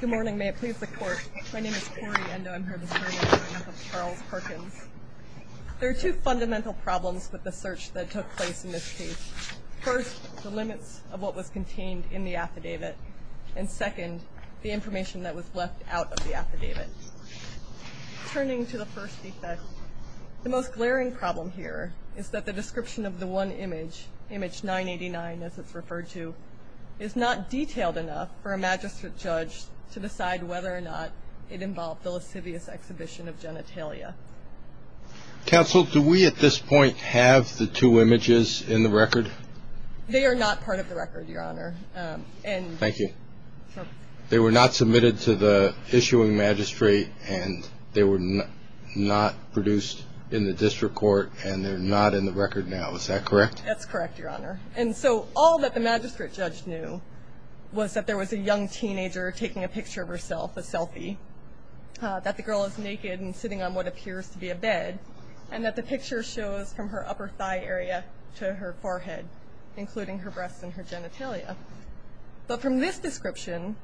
Good morning, may it please the court. My name is Cori Endo. I'm here this morning in support of Charles Perkins. There are two fundamental problems with the search that took place in this case. First, the limits of what was contained in the affidavit. And second, the information that was left out of the affidavit. Turning to the first defect, the most glaring problem here is that the description of the one image, image 989, as it's referred to, is not detailed enough for a magistrate judge to decide whether or not it involved the lascivious exhibition of genitalia. Counsel, do we at this point have the two images in the record? They are not part of the record, Your Honor. Thank you. They were not submitted to the issuing magistrate, and they were not produced in the district court, and they're not in the record now. Is that correct? That's correct, Your Honor. And so all that the magistrate judge knew was that there was a young teenager taking a picture of herself, a selfie, that the girl is naked and sitting on what appears to be a bed, and that the picture shows from her upper thigh area to her forehead, including her breasts and her genitalia. But from this description,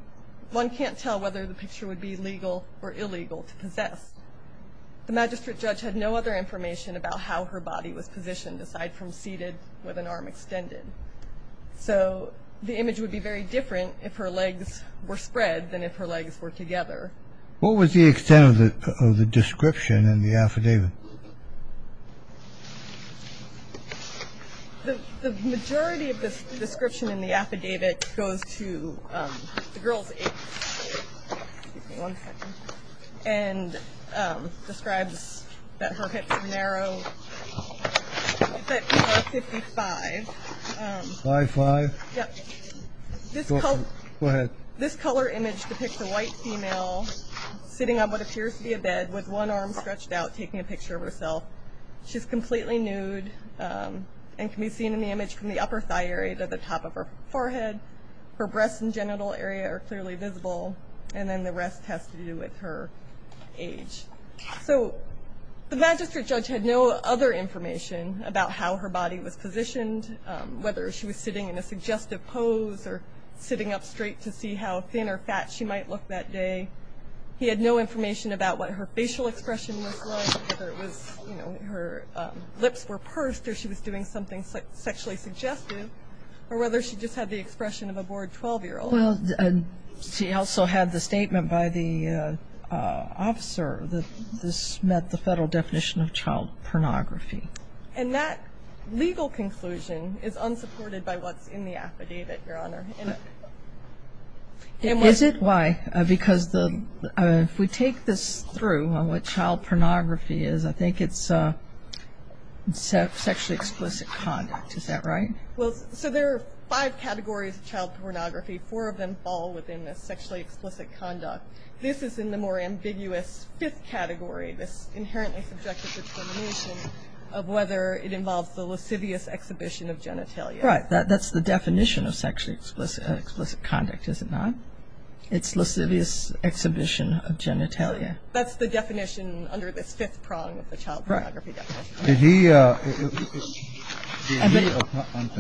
one can't tell whether the picture would be legal or illegal to possess. The magistrate judge had no other information about how her body was positioned aside from seated with an arm extended. So the image would be very different if her legs were spread than if her legs were together. What was the extent of the description in the affidavit? The majority of the description in the affidavit goes to the girl's age. Excuse me one second. And describes that her hips are narrow, that she was 55. Five-five? Yep. Go ahead. This color image depicts a white female sitting on what appears to be a bed with one arm stretched out taking a picture of herself. She's completely nude and can be seen in the image from the upper thigh area to the top of her forehead. Her breasts and genital area are clearly visible, and then the rest has to do with her age. So the magistrate judge had no other information about how her body was positioned, whether she was sitting in a suggestive pose or sitting up straight to see how thin or fat she might look that day. He had no information about what her facial expression was like, whether it was, you know, her lips were pursed or she was doing something sexually suggestive, or whether she just had the expression of a bored 12-year-old. Well, she also had the statement by the officer that this met the federal definition of child pornography. And that legal conclusion is unsupported by what's in the affidavit, Your Honor. Is it? Why? Because if we take this through on what child pornography is, I think it's sexually explicit conduct. Is that right? Well, so there are five categories of child pornography. Four of them fall within the sexually explicit conduct. This is in the more ambiguous fifth category, this inherently subjective determination of whether it involves the lascivious exhibition of genitalia. Right. That's the definition of sexually explicit conduct, is it not? It's lascivious exhibition of genitalia. That's the definition under this fifth prong of the child pornography definition. Right. I'm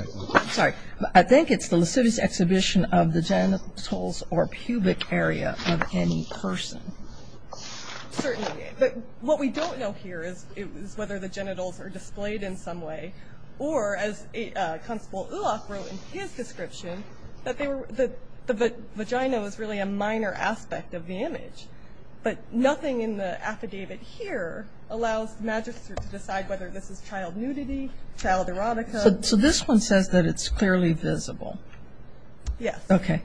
sorry. I think it's the lascivious exhibition of the genitals or pubic area of any person. Certainly. But what we don't know here is whether the genitals are displayed in some way, or as Constable Ulof wrote in his description, but nothing in the affidavit here allows the magistrate to decide whether this is child nudity, child erotica. So this one says that it's clearly visible. Yes. Okay.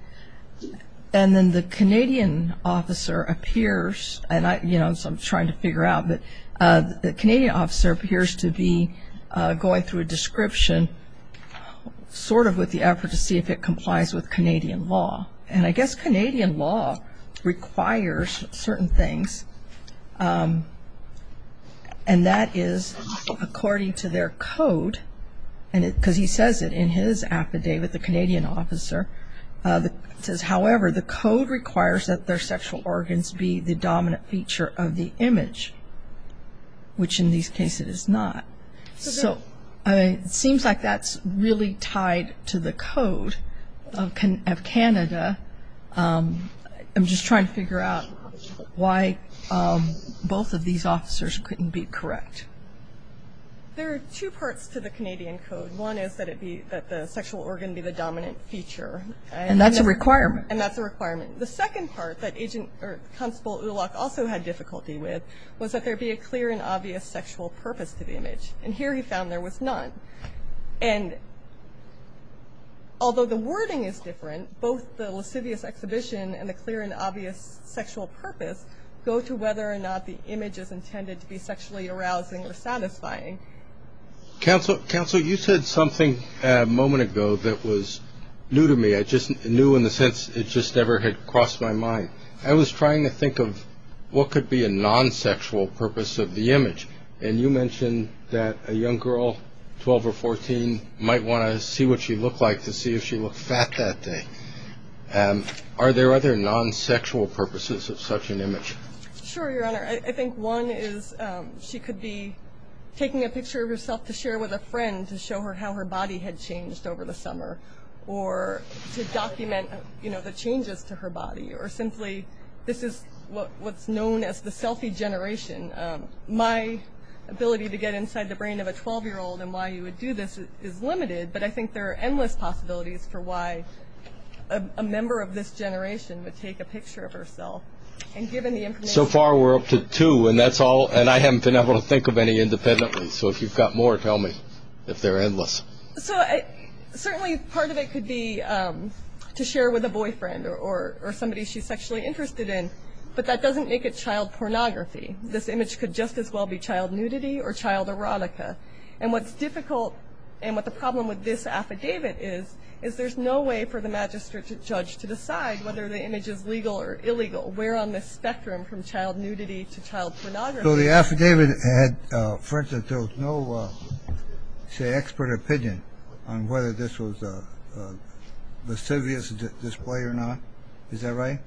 And then the Canadian officer appears, and I'm trying to figure out, but the Canadian officer appears to be going through a description, sort of with the effort to see if it complies with Canadian law. And I guess Canadian law requires certain things, and that is according to their code, because he says it in his affidavit, the Canadian officer, it says, however, the code requires that their sexual organs be the dominant feature of the image, which in this case it is not. So it seems like that's really tied to the code of Canada. I'm just trying to figure out why both of these officers couldn't be correct. There are two parts to the Canadian code. One is that the sexual organ be the dominant feature. And that's a requirement. And that's a requirement. The second part that Constable Ulof also had difficulty with was that there be a clear and obvious sexual purpose to the image. And here he found there was none. And although the wording is different, both the lascivious exhibition and the clear and obvious sexual purpose go to whether or not the image is intended to be sexually arousing or satisfying. Counsel, you said something a moment ago that was new to me, new in the sense it just never had crossed my mind. I was trying to think of what could be a non-sexual purpose of the image. And you mentioned that a young girl, 12 or 14, might want to see what she looked like to see if she looked fat that day. Are there other non-sexual purposes of such an image? Sure, Your Honor. I think one is she could be taking a picture of herself to share with a friend to show her how her body had changed over the summer or to document the changes to her body. Or simply this is what's known as the selfie generation. My ability to get inside the brain of a 12-year-old and why you would do this is limited, but I think there are endless possibilities for why a member of this generation would take a picture of herself. So far we're up to two, and I haven't been able to think of any independently. So if you've got more, tell me if they're endless. So certainly part of it could be to share with a boyfriend or somebody she's sexually interested in, but that doesn't make it child pornography. This image could just as well be child nudity or child erotica. And what's difficult and what the problem with this affidavit is is there's no way for the magistrate judge to decide whether the image is legal or illegal. We're on the spectrum from child nudity to child pornography. So the affidavit had, for instance, no say expert opinion on whether this was a lascivious display or not. Is that right?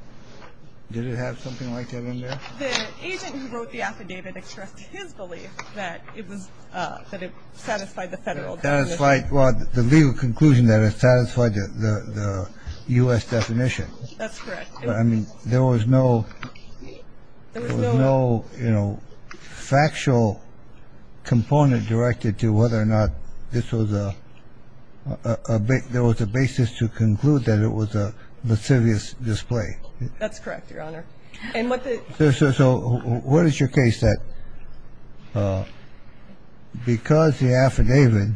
Did it have something like that in there? The agent who wrote the affidavit expressed his belief that it was that it satisfied the federal. That's right. Well, the legal conclusion that it satisfied the US definition. I mean, there was no, you know, factual component directed to whether or not this was a bit. There was a basis to conclude that it was a lascivious display. That's correct, Your Honor. And so what is your case that because the affidavit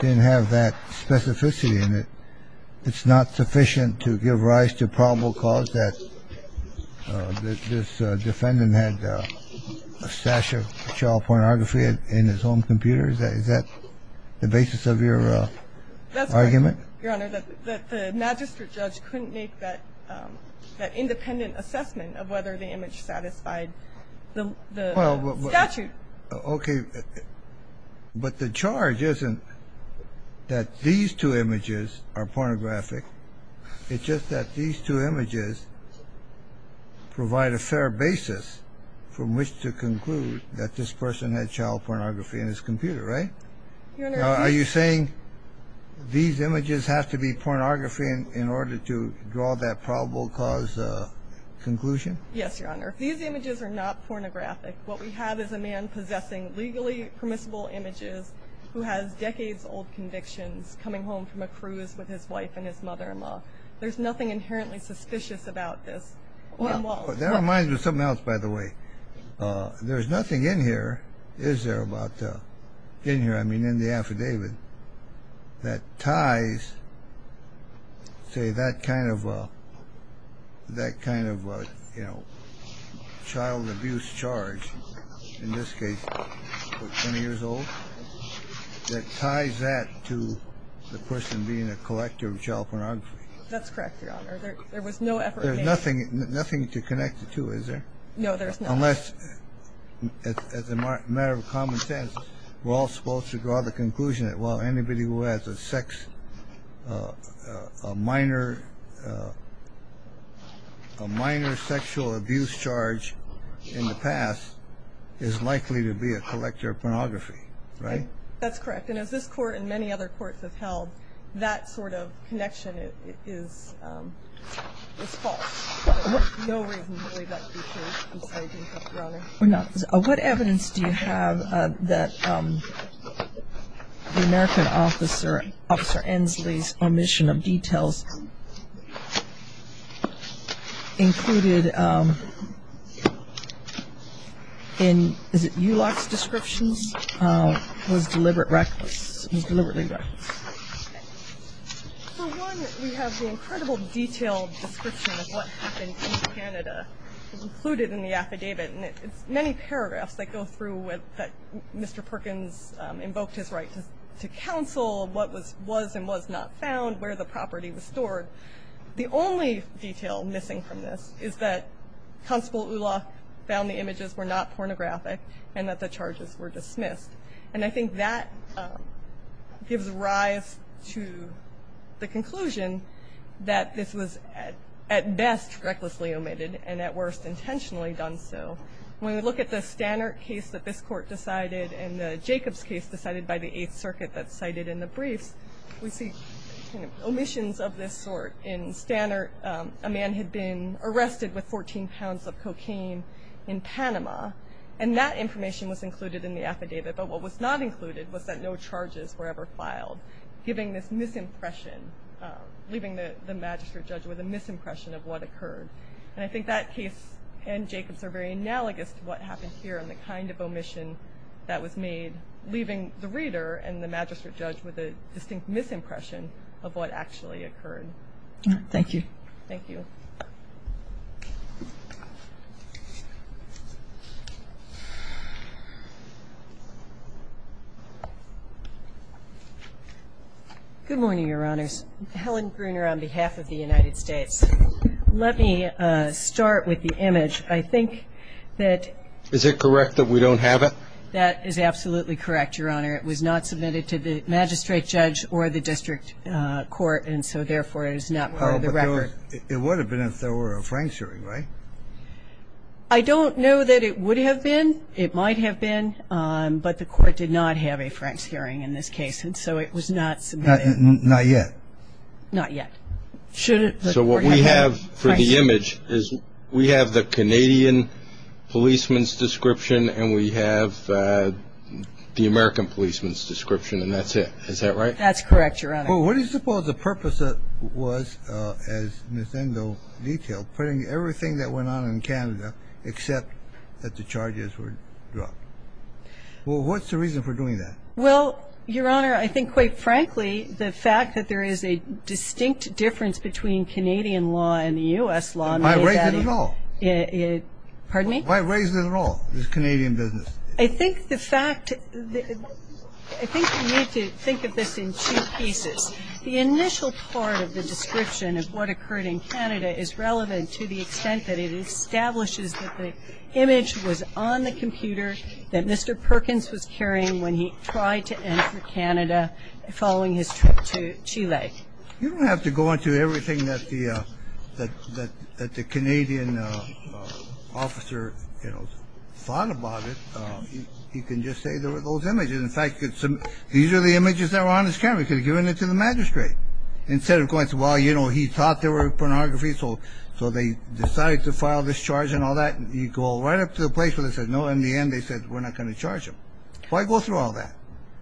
didn't have that specificity in it, it's not sufficient to give rise to probable cause that this defendant had a stash of child pornography in his own computer? Is that the basis of your argument? Your Honor, the magistrate judge couldn't make that independent assessment of whether the image satisfied the statute. OK. But the charge isn't that these two images are pornographic. It's just that these two images provide a fair basis from which to conclude that this person had child pornography in his computer. Right. Are you saying these images have to be pornography in order to draw that probable cause conclusion? Yes, Your Honor. These images are not pornographic. What we have is a man possessing legally permissible images who has decades old convictions coming home from a cruise with his wife and his mother-in-law. There's nothing inherently suspicious about this. That reminds me of something else, by the way. There's nothing in here, is there, about in here, I mean, in the affidavit that ties, say, that kind of that kind of, you know, child abuse charge, in this case, 20 years old, that ties that to the person being a collector of child pornography. That's correct, Your Honor. There was no effort. There's nothing nothing to connect it to, is there? No, there's not. Unless, as a matter of common sense, we're all supposed to draw the conclusion that, well, anybody who has a minor sexual abuse charge in the past is likely to be a collector of pornography, right? That's correct. And as this court and many other courts have held, that sort of connection is false. No reason to believe that's the case. I'm sorry to interrupt, Your Honor. What evidence do you have that the American officer, Officer Ensley's omission of details included in, is it Ulock's descriptions, was deliberate reckless, was deliberately reckless? For one, we have the incredible detailed description of what happened in Canada included in the affidavit. And it's many paragraphs that go through that Mr. Perkins invoked his right to counsel, what was and was not found, where the property was stored. The only detail missing from this is that Constable Ulock found the images were not pornographic and that the charges were dismissed. And I think that gives rise to the conclusion that this was at best recklessly omitted and at worst intentionally done so. When we look at the Stannert case that this court decided and the Jacobs case decided by the Eighth Circuit that's cited in the briefs, we see omissions of this sort. In Stannert, a man had been arrested with 14 pounds of cocaine in Panama. And that information was included in the affidavit. But what was not included was that no charges were ever filed, giving this misimpression, leaving the magistrate judge with a misimpression of what occurred. And I think that case and Jacobs are very analogous to what happened here and the kind of omission that was made, leaving the reader and the magistrate judge with a distinct misimpression of what actually occurred. Thank you. Thank you. Good morning, Your Honors. Helen Gruner on behalf of the United States. Let me start with the image. I think that ---- Is it correct that we don't have it? That is absolutely correct, Your Honor. It was not submitted to the magistrate judge or the district court, and so therefore it is not part of the record. Oh, but it would have been if there were a frank shooting, right? I don't know that it would have been. It would have been. It might have been, but the court did not have a frank shooting in this case, and so it was not submitted. Not yet. Not yet. So what we have for the image is we have the Canadian policeman's description and we have the American policeman's description, and that's it. Is that right? That's correct, Your Honor. Well, what do you suppose the purpose of it was, as Ms. Engel detailed, was that it was a case of putting everything that went on in Canada except that the charges were dropped? Well, what's the reason for doing that? Well, Your Honor, I think, quite frankly, the fact that there is a distinct difference between Canadian law and the U.S. law and the way that it is ---- Why raise it at all? Pardon me? Why raise it at all, this Canadian business? I think the fact ---- I think we need to think of this in two pieces. The initial part of the description of what occurred in Canada is relevant to the extent that it establishes that the image was on the computer that Mr. Perkins was carrying when he tried to enter Canada following his trip to Chile. You don't have to go into everything that the Canadian officer, you know, thought about it. You can just say there were those images. In fact, these are the images that were on his camera. He could have given it to the magistrate. Instead of going, well, you know, he thought there were pornography, so they decided to file this charge and all that. You go right up to the place where they said no. In the end, they said we're not going to charge him. Why go through all that?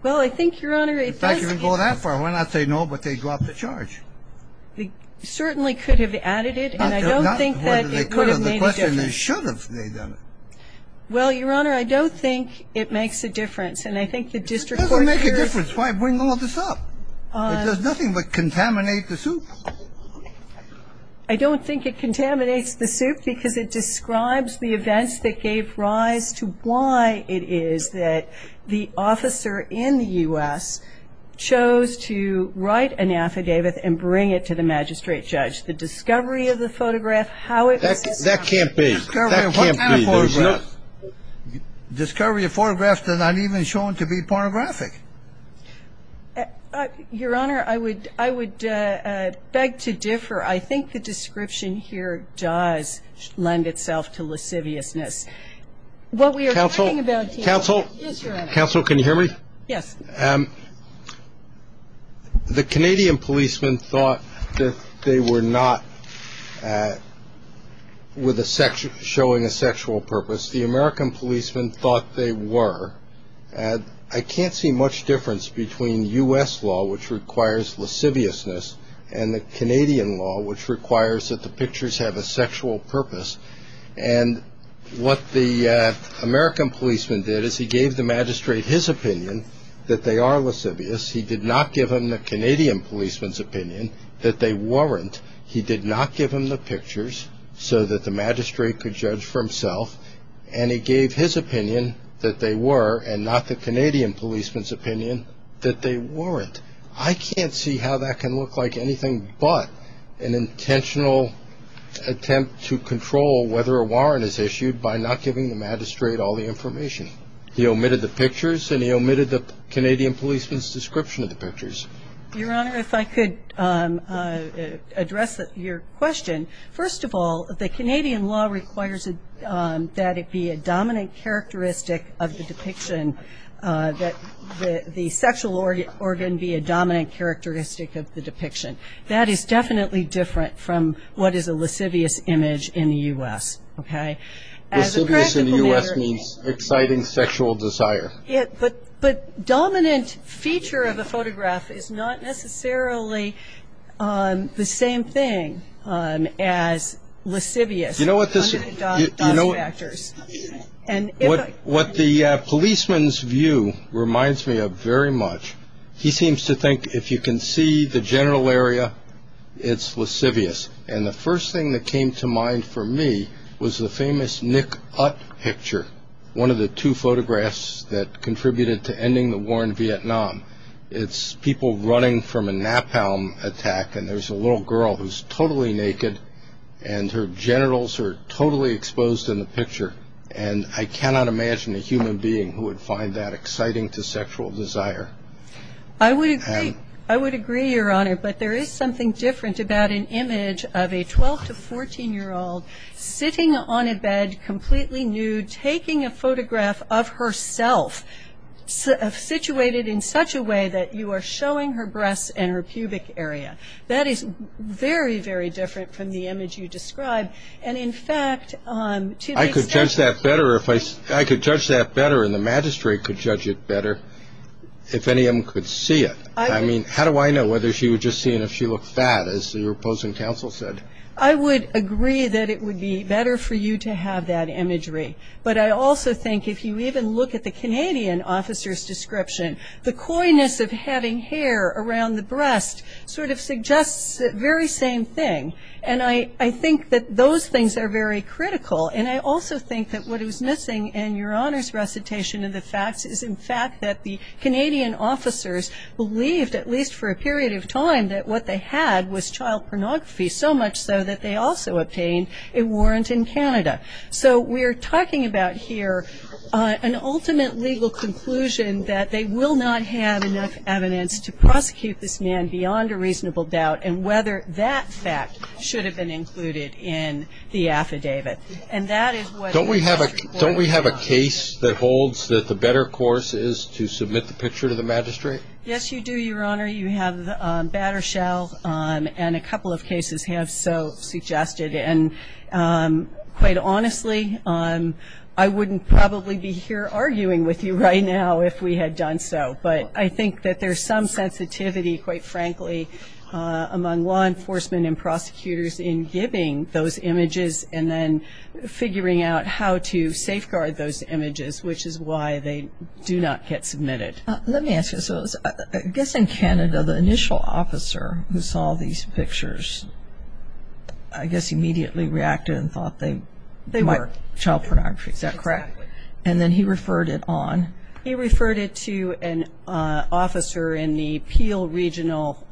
Well, I think, Your Honor, it does ---- In fact, you can go that far. Why not say no, but they drop the charge? They certainly could have added it, and I don't think that it would have made a difference. Well, Your Honor, I don't think it makes a difference. And I think the district court ---- It doesn't make a difference. Why bring all this up? It does nothing but contaminate the suit. I don't think it contaminates the suit because it describes the events that gave rise to why it is that the officer in the U.S. chose to write an affidavit and bring it to the magistrate judge. The discovery of the photograph, how it was ---- That can't be. That can't be. The discovery of photographs that are not even shown to be pornographic. Your Honor, I would beg to differ. I think the description here does lend itself to lasciviousness. What we are talking about here is, Your Honor ---- Counsel, counsel, counsel, can you hear me? Yes. The Canadian policemen thought that they were not showing a sexual purpose. The American policemen thought they were. I can't see much difference between U.S. law, which requires lasciviousness, and the Canadian law, which requires that the pictures have a sexual purpose. And what the American policeman did is he gave the magistrate his opinion that they are lascivious. He did not give him the Canadian policeman's opinion that they weren't. He did not give him the pictures so that the magistrate could judge for himself. And he gave his opinion that they were, and not the Canadian policeman's opinion, that they weren't. I can't see how that can look like anything but an intentional attempt to control whether a warrant is issued by not giving the magistrate all the information. He omitted the pictures, and he omitted the Canadian policeman's description of the pictures. Your Honor, if I could address your question. First of all, the Canadian law requires that it be a dominant characteristic of the depiction, and that the sexual organ be a dominant characteristic of the depiction. That is definitely different from what is a lascivious image in the U.S., okay? Lascivious in the U.S. means exciting sexual desire. But dominant feature of a photograph is not necessarily the same thing as lascivious. You know what the policeman's view reminds me of very much? He seems to think if you can see the genital area, it's lascivious. And the first thing that came to mind for me was the famous Nick Ut picture, one of the two photographs that contributed to ending the war in Vietnam. It's people running from a napalm attack, and there's a little girl who's totally naked, and her genitals are totally exposed in the picture. And I cannot imagine a human being who would find that exciting to sexual desire. I would agree. I would agree, Your Honor. But there is something different about an image of a 12- to 14-year-old sitting on a bed, completely nude, taking a photograph of herself, situated in such a way that you are showing her breasts and her pubic area. That is very, very different from the image you described. And, in fact, to the extent that you see her. I could judge that better, and the magistrate could judge it better if any of them could see it. I mean, how do I know whether she would just see it if she looked fat, as the opposing counsel said? I would agree that it would be better for you to have that imagery. But I also think if you even look at the Canadian officer's description, the coyness of having hair around the breast sort of suggests the very same thing. And I think that those things are very critical. And I also think that what is missing in Your Honor's recitation of the facts is, in fact, that the Canadian officers believed, at least for a period of time, that what they had was child pornography, so much so that they also obtained a warrant in Canada. So we are talking about here an ultimate legal conclusion that they will not have enough evidence to prosecute this man beyond a reasonable doubt and whether that fact should have been included in the affidavit. And that is what the court found. Don't we have a case that holds that the better course is to submit the picture to the magistrate? Yes, you do, Your Honor. You have Battershell, and a couple of cases have so suggested. And quite honestly, I wouldn't probably be here arguing with you right now if we had done so. But I think that there's some sensitivity, quite frankly, among law enforcement and prosecutors in giving those images and then figuring out how to safeguard those images, which is why they do not get submitted. Let me ask you this. I guess in Canada, the initial officer who saw these pictures, I guess, immediately reacted and thought they were child pornography, is that correct? Exactly. And then he referred it on? He referred it to an officer in the Peel Regional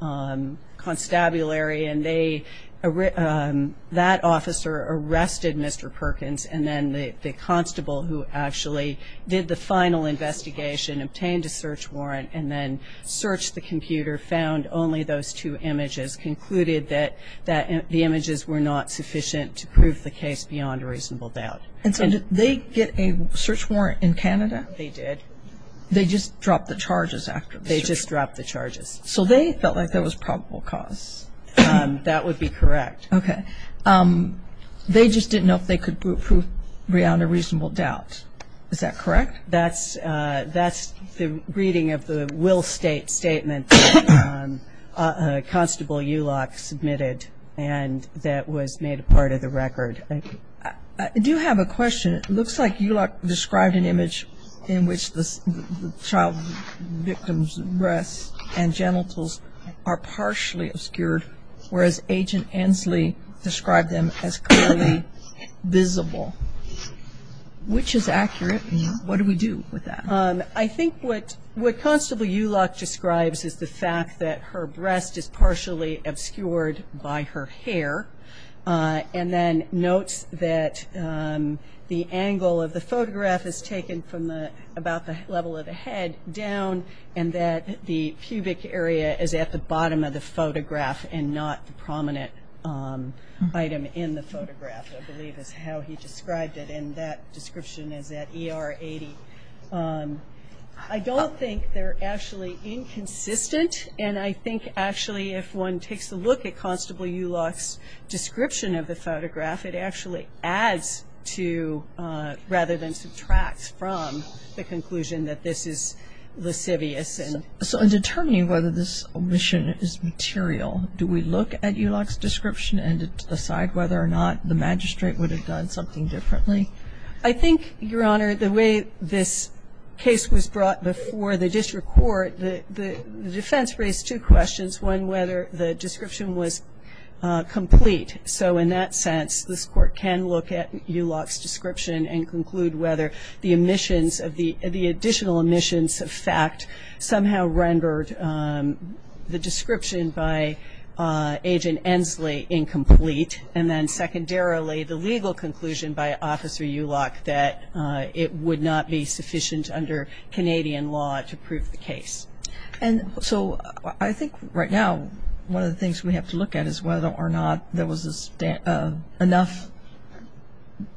Constabulary, and that officer arrested Mr. Perkins, and then the constable who actually did the final investigation obtained a search warrant and then searched the computer, found only those two images, concluded that the images were not sufficient to prove the case beyond a reasonable doubt. And so did they get a search warrant in Canada? They did. They just dropped the charges after the search? They just dropped the charges. So they felt like there was probable cause? That would be correct. Okay. They just didn't know if they could prove beyond a reasonable doubt. Is that correct? That's the reading of the Will State Statement that Constable Ulock submitted and that was made a part of the record. I do have a question. It looks like Ulock described an image in which the child victim's breasts and genitals are partially obscured, whereas Agent Ansley described them as clearly visible. Which is accurate, and what do we do with that? I think what Constable Ulock describes is the fact that her breast is partially obscured by her hair and then notes that the angle of the photograph is taken from about the level of the head down and that the pubic area is at the bottom of the photograph and not the prominent item in the photograph, I believe is how he described it. And that description is at ER 80. I don't think they're actually inconsistent, and I think actually if one takes a look at Constable Ulock's description of the photograph, it actually adds to rather than subtract from the conclusion that this is lascivious. So in determining whether this omission is material, do we look at Ulock's description and decide whether or not the magistrate would have done something differently? I think, Your Honor, the way this case was brought before the district court, the defense raised two questions, one whether the description was complete. So in that sense, this court can look at Ulock's description and conclude whether the additional omissions of fact somehow rendered the description by Agent Ensley incomplete and then secondarily the legal conclusion by Officer Ulock that it would not be sufficient under Canadian law to prove the case. And so I think right now one of the things we have to look at is whether or not there was enough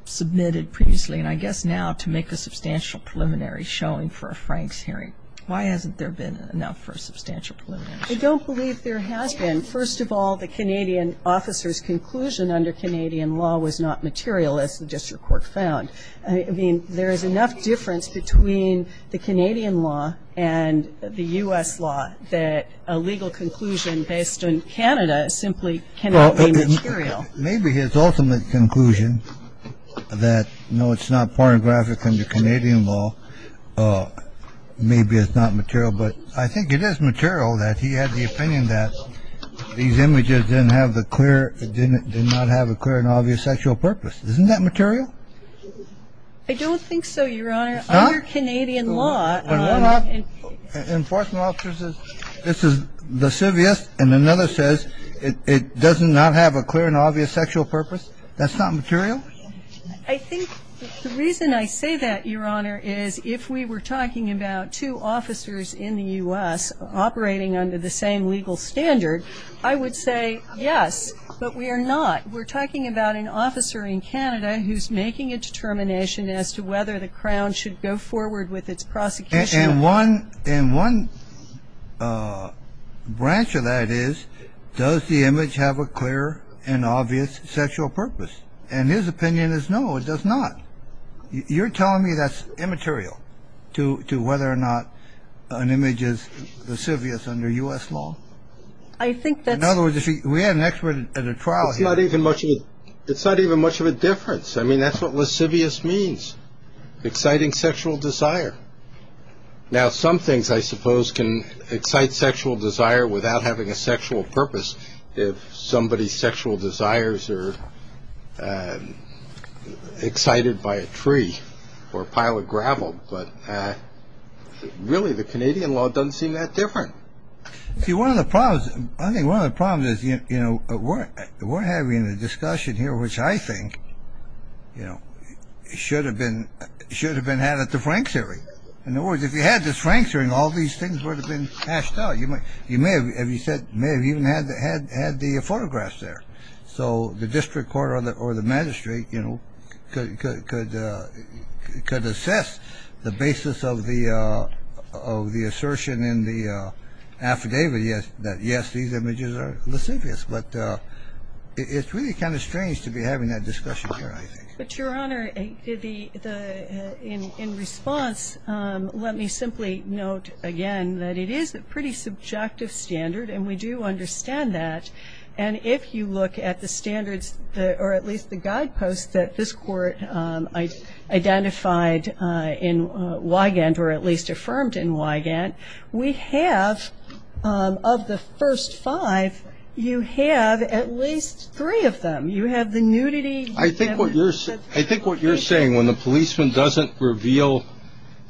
submitted previously, and I guess now to make a substantial preliminary showing for a Franks hearing. Why hasn't there been enough for a substantial preliminary? I don't believe there has been. First of all, the Canadian officer's conclusion under Canadian law was not material, as the district court found. I mean, there is enough difference between the Canadian law and the U.S. law that a legal conclusion based on Canada simply cannot be material. Maybe his ultimate conclusion that, no, it's not pornographic under Canadian law, maybe it's not material. But I think it is material that he had the opinion that these images didn't have a clear and obvious sexual purpose. Isn't that material? I don't think so, Your Honor. Under Canadian law. When one enforcement officer says this is lascivious and another says it doesn't not have a clear and obvious sexual purpose, that's not material? I think the reason I say that, Your Honor, is if we were talking about two officers in the U.S. operating under the same legal standard, I would say yes, but we are not. We're talking about an officer in Canada who's making a determination as to whether the Crown should go forward with its prosecution. And one branch of that is, does the image have a clear and obvious sexual purpose? And his opinion is, no, it does not. You're telling me that's immaterial to whether or not an image is lascivious under U.S. law? I think that's... In other words, if we had an expert at a trial here... It's not even much of a difference. I mean, that's what lascivious means. Exciting sexual desire. Now, some things, I suppose, can excite sexual desire without having a sexual purpose. If somebody's sexual desires are excited by a tree or a pile of gravel, but really the Canadian law doesn't seem that different. See, one of the problems, I think one of the problems is, you know, we're having a discussion here which I think, you know, should have been had at the Franks hearing. In other words, if you had this Franks hearing, all these things would have been hashed out. You may have even had the photographs there. So the district court or the magistrate, you know, could assess the basis of the assertion in the affidavit that, yes, these images are lascivious. But it's really kind of strange to be having that discussion here, I think. But, Your Honor, in response, let me simply note again that it is a pretty subjective standard, and we do understand that. And if you look at the standards or at least the guideposts that this court identified in Wigand or at least affirmed in Wigand, we have, of the first five, you have at least three of them. You have the nudity. I think what you're saying, when the policeman doesn't reveal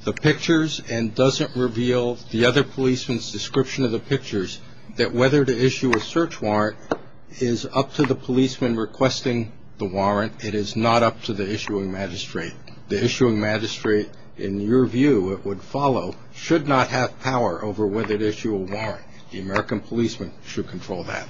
the pictures and doesn't reveal the other policeman's description of the pictures, that whether to issue a search warrant is up to the policeman requesting the warrant. It is not up to the issuing magistrate. The issuing magistrate, in your view, it would follow, should not have power over whether to issue a warrant. The American policeman should control that.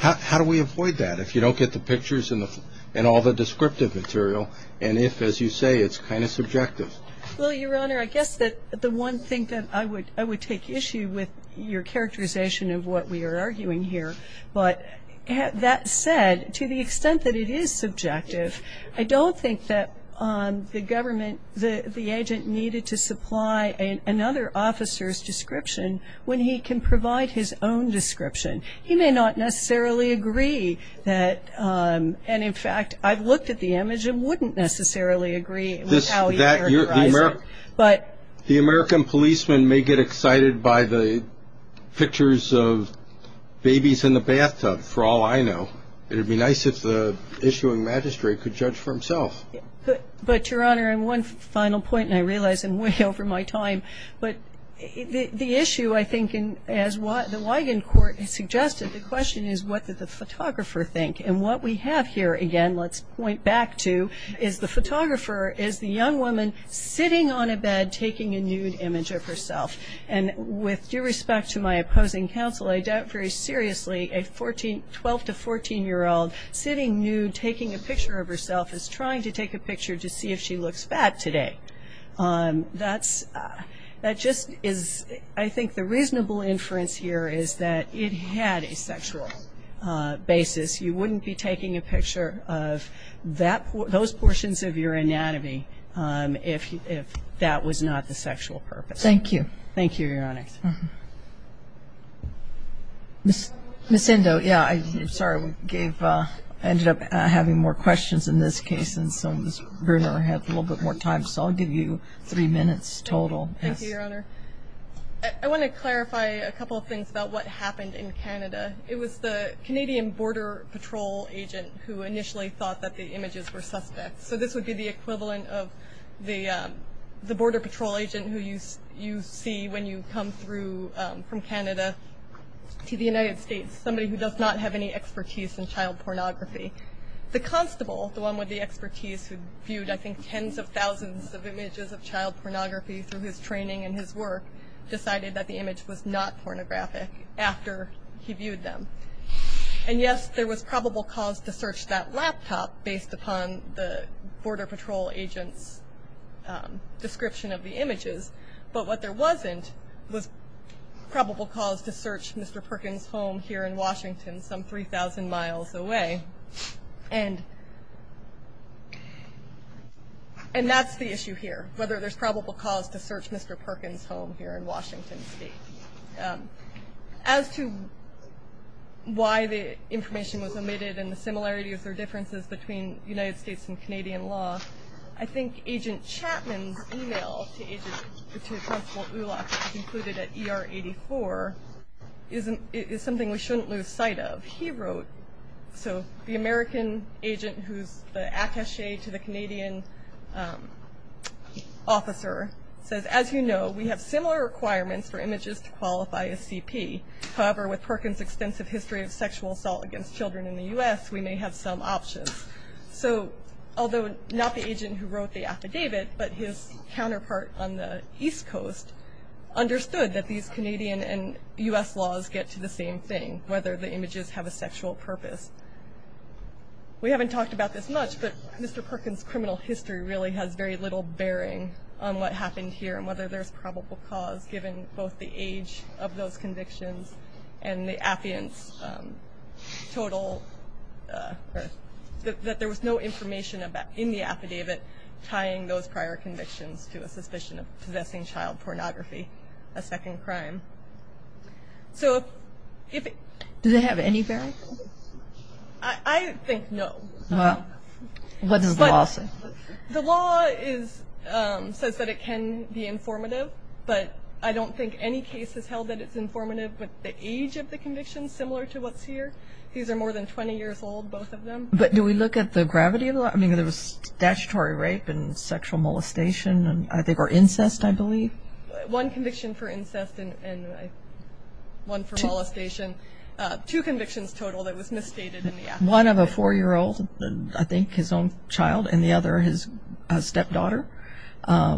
How do we avoid that if you don't get the pictures and all the descriptive material, and if, as you say, it's kind of subjective? Well, Your Honor, I guess that the one thing that I would take issue with your characterization of what we are arguing here, but that said, to the extent that it is subjective, I don't think that the government, the agent needed to supply another officer's description when he can provide his own description. He may not necessarily agree that, and in fact, I've looked at the image and wouldn't necessarily agree with how he characterized it. But the American policeman may get excited by the pictures of babies in the bathtub, for all I know. It would be nice if the issuing magistrate could judge for himself. But, Your Honor, and one final point, and I realize I'm way over my time, but the issue, I think, as the Wigand Court has suggested, the question is, what did the photographer think? And what we have here, again, let's point back to, is the photographer is the young woman sitting on a bed taking a nude image of herself. And with due respect to my opposing counsel, I doubt very seriously a 12- to 14-year-old sitting nude, taking a picture of herself as trying to take a picture to see if she looks fat today. That just is, I think, the reasonable inference here is that it had a sexual basis. You wouldn't be taking a picture of those portions of your anatomy if that was not the sexual purpose. Thank you. Thank you, Your Honor. Ms. Indo, yeah, sorry, I ended up having more questions in this case, and so Ms. Brunner had a little bit more time, so I'll give you three minutes total. Thank you, Your Honor. I want to clarify a couple of things about what happened in Canada. It was the Canadian Border Patrol agent who initially thought that the images were suspects. So this would be the equivalent of the Border Patrol agent who you see when you come through from Canada to the United States, somebody who does not have any expertise in child pornography. The constable, the one with the expertise who viewed, I think, tens of thousands of images of child pornography through his training and his work, decided that the image was not pornographic after he viewed them. And yes, there was probable cause to search that laptop based upon the Border Patrol agent's description of the images, but what there wasn't was probable cause to search Mr. Perkins' home here in Washington, some 3,000 miles away. And that's the issue here, whether there's probable cause to search Mr. Perkins' home here in Washington State. As to why the information was omitted and the similarities or differences between the United States and Canadian law, I think Agent Chapman's email to Agent, to Constable Ulock, included at ER 84, is something we shouldn't lose sight of. He wrote, so the American agent who's the attache to the Canadian officer says, as you know, we have similar requirements for images to qualify as CP. However, with Perkins' extensive history of sexual assault against children in the U.S., we may have some options. So, although not the agent who wrote the affidavit, but his counterpart on the East Coast, understood that these Canadian and U.S. laws get to the same thing, whether the images have a sexual purpose. We haven't talked about this much, but Mr. Perkins' criminal history really has very little bearing on what happened here and whether there's probable cause, given both the age of those convictions and the affidavit's total, that there was no information in the affidavit tying those prior convictions to a suspicion of possessing child pornography, a second crime. So, if- Do they have any bearing? I think no. Well, what does the law say? The law says that it can be informative, but I don't think any case has held that it's informative with the age of the convictions, similar to what's here. These are more than 20 years old, both of them. But do we look at the gravity of the law? I mean, there was statutory rape and sexual molestation, I think, or incest, I believe. One conviction for incest and one for molestation. Two convictions total that was misstated in the affidavit. One of a four-year-old, I think, his own child, and the other his stepdaughter.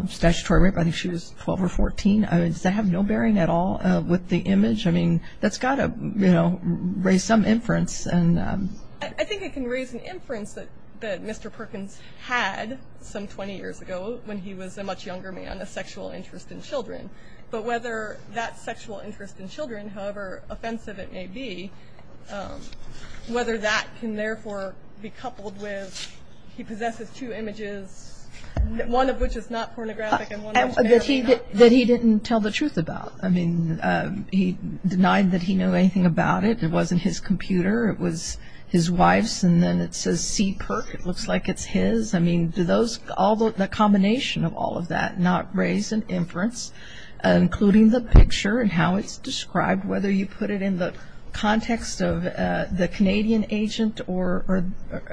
Statutory rape, I think she was 12 or 14. Does that have no bearing at all with the image? I mean, that's got to, you know, raise some inference. I think it can raise an inference that Mr. Perkins had some 20 years ago when he was a much younger man, a sexual interest in children. But whether that sexual interest in children, however offensive it may be, whether that can therefore be coupled with he possesses two images, one of which is not pornographic and one of which may or may not be. That he didn't tell the truth about. I mean, he denied that he knew anything about it. It wasn't his computer. It was his wife's, and then it says C. Perk. It looks like it's his. I mean, do the combination of all of that not raise an inference, including the picture and how it's described, whether you put it in the context of the Canadian agent or,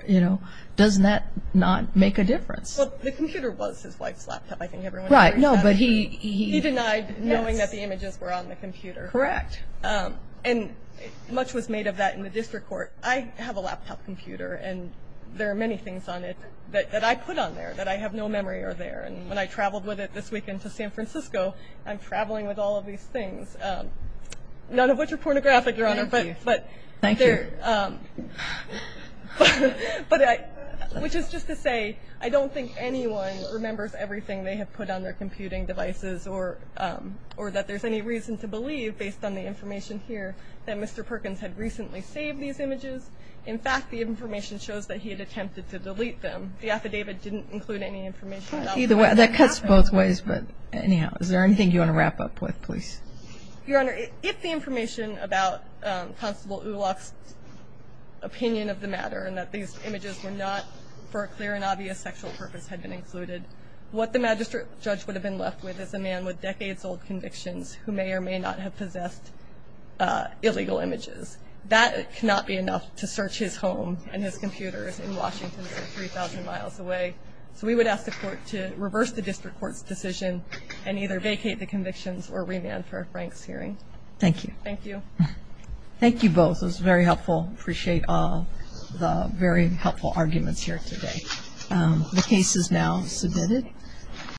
you know, doesn't that not make a difference? Well, the computer was his wife's laptop. I think everyone agrees with that. Right, no, but he. He denied knowing that the images were on the computer. Correct. And much was made of that in the district court. I have a laptop computer, and there are many things on it that I put on there that I have no memory are there. And when I traveled with it this weekend to San Francisco, I'm traveling with all of these things, none of which are pornographic, Your Honor. Thank you. Which is just to say I don't think anyone remembers everything they have put on their computing devices or that there's any reason to believe, based on the information here, that Mr. Perkins had recently saved these images. In fact, the information shows that he had attempted to delete them. The affidavit didn't include any information. Either way, that cuts both ways. But anyhow, is there anything you want to wrap up with, please? Your Honor, if the information about Constable Ulock's opinion of the matter and that these images were not for a clear and obvious sexual purpose had been included, what the magistrate judge would have been left with is a man with decades-old convictions who may or may not have possessed illegal images. That cannot be enough to search his home and his computers in Washington, so 3,000 miles away. So we would ask the court to reverse the district court's decision and either vacate the convictions or remand for a Franks hearing. Thank you. Thank you. Thank you both. It was very helpful. I appreciate all the very helpful arguments here today. The case is now submitted.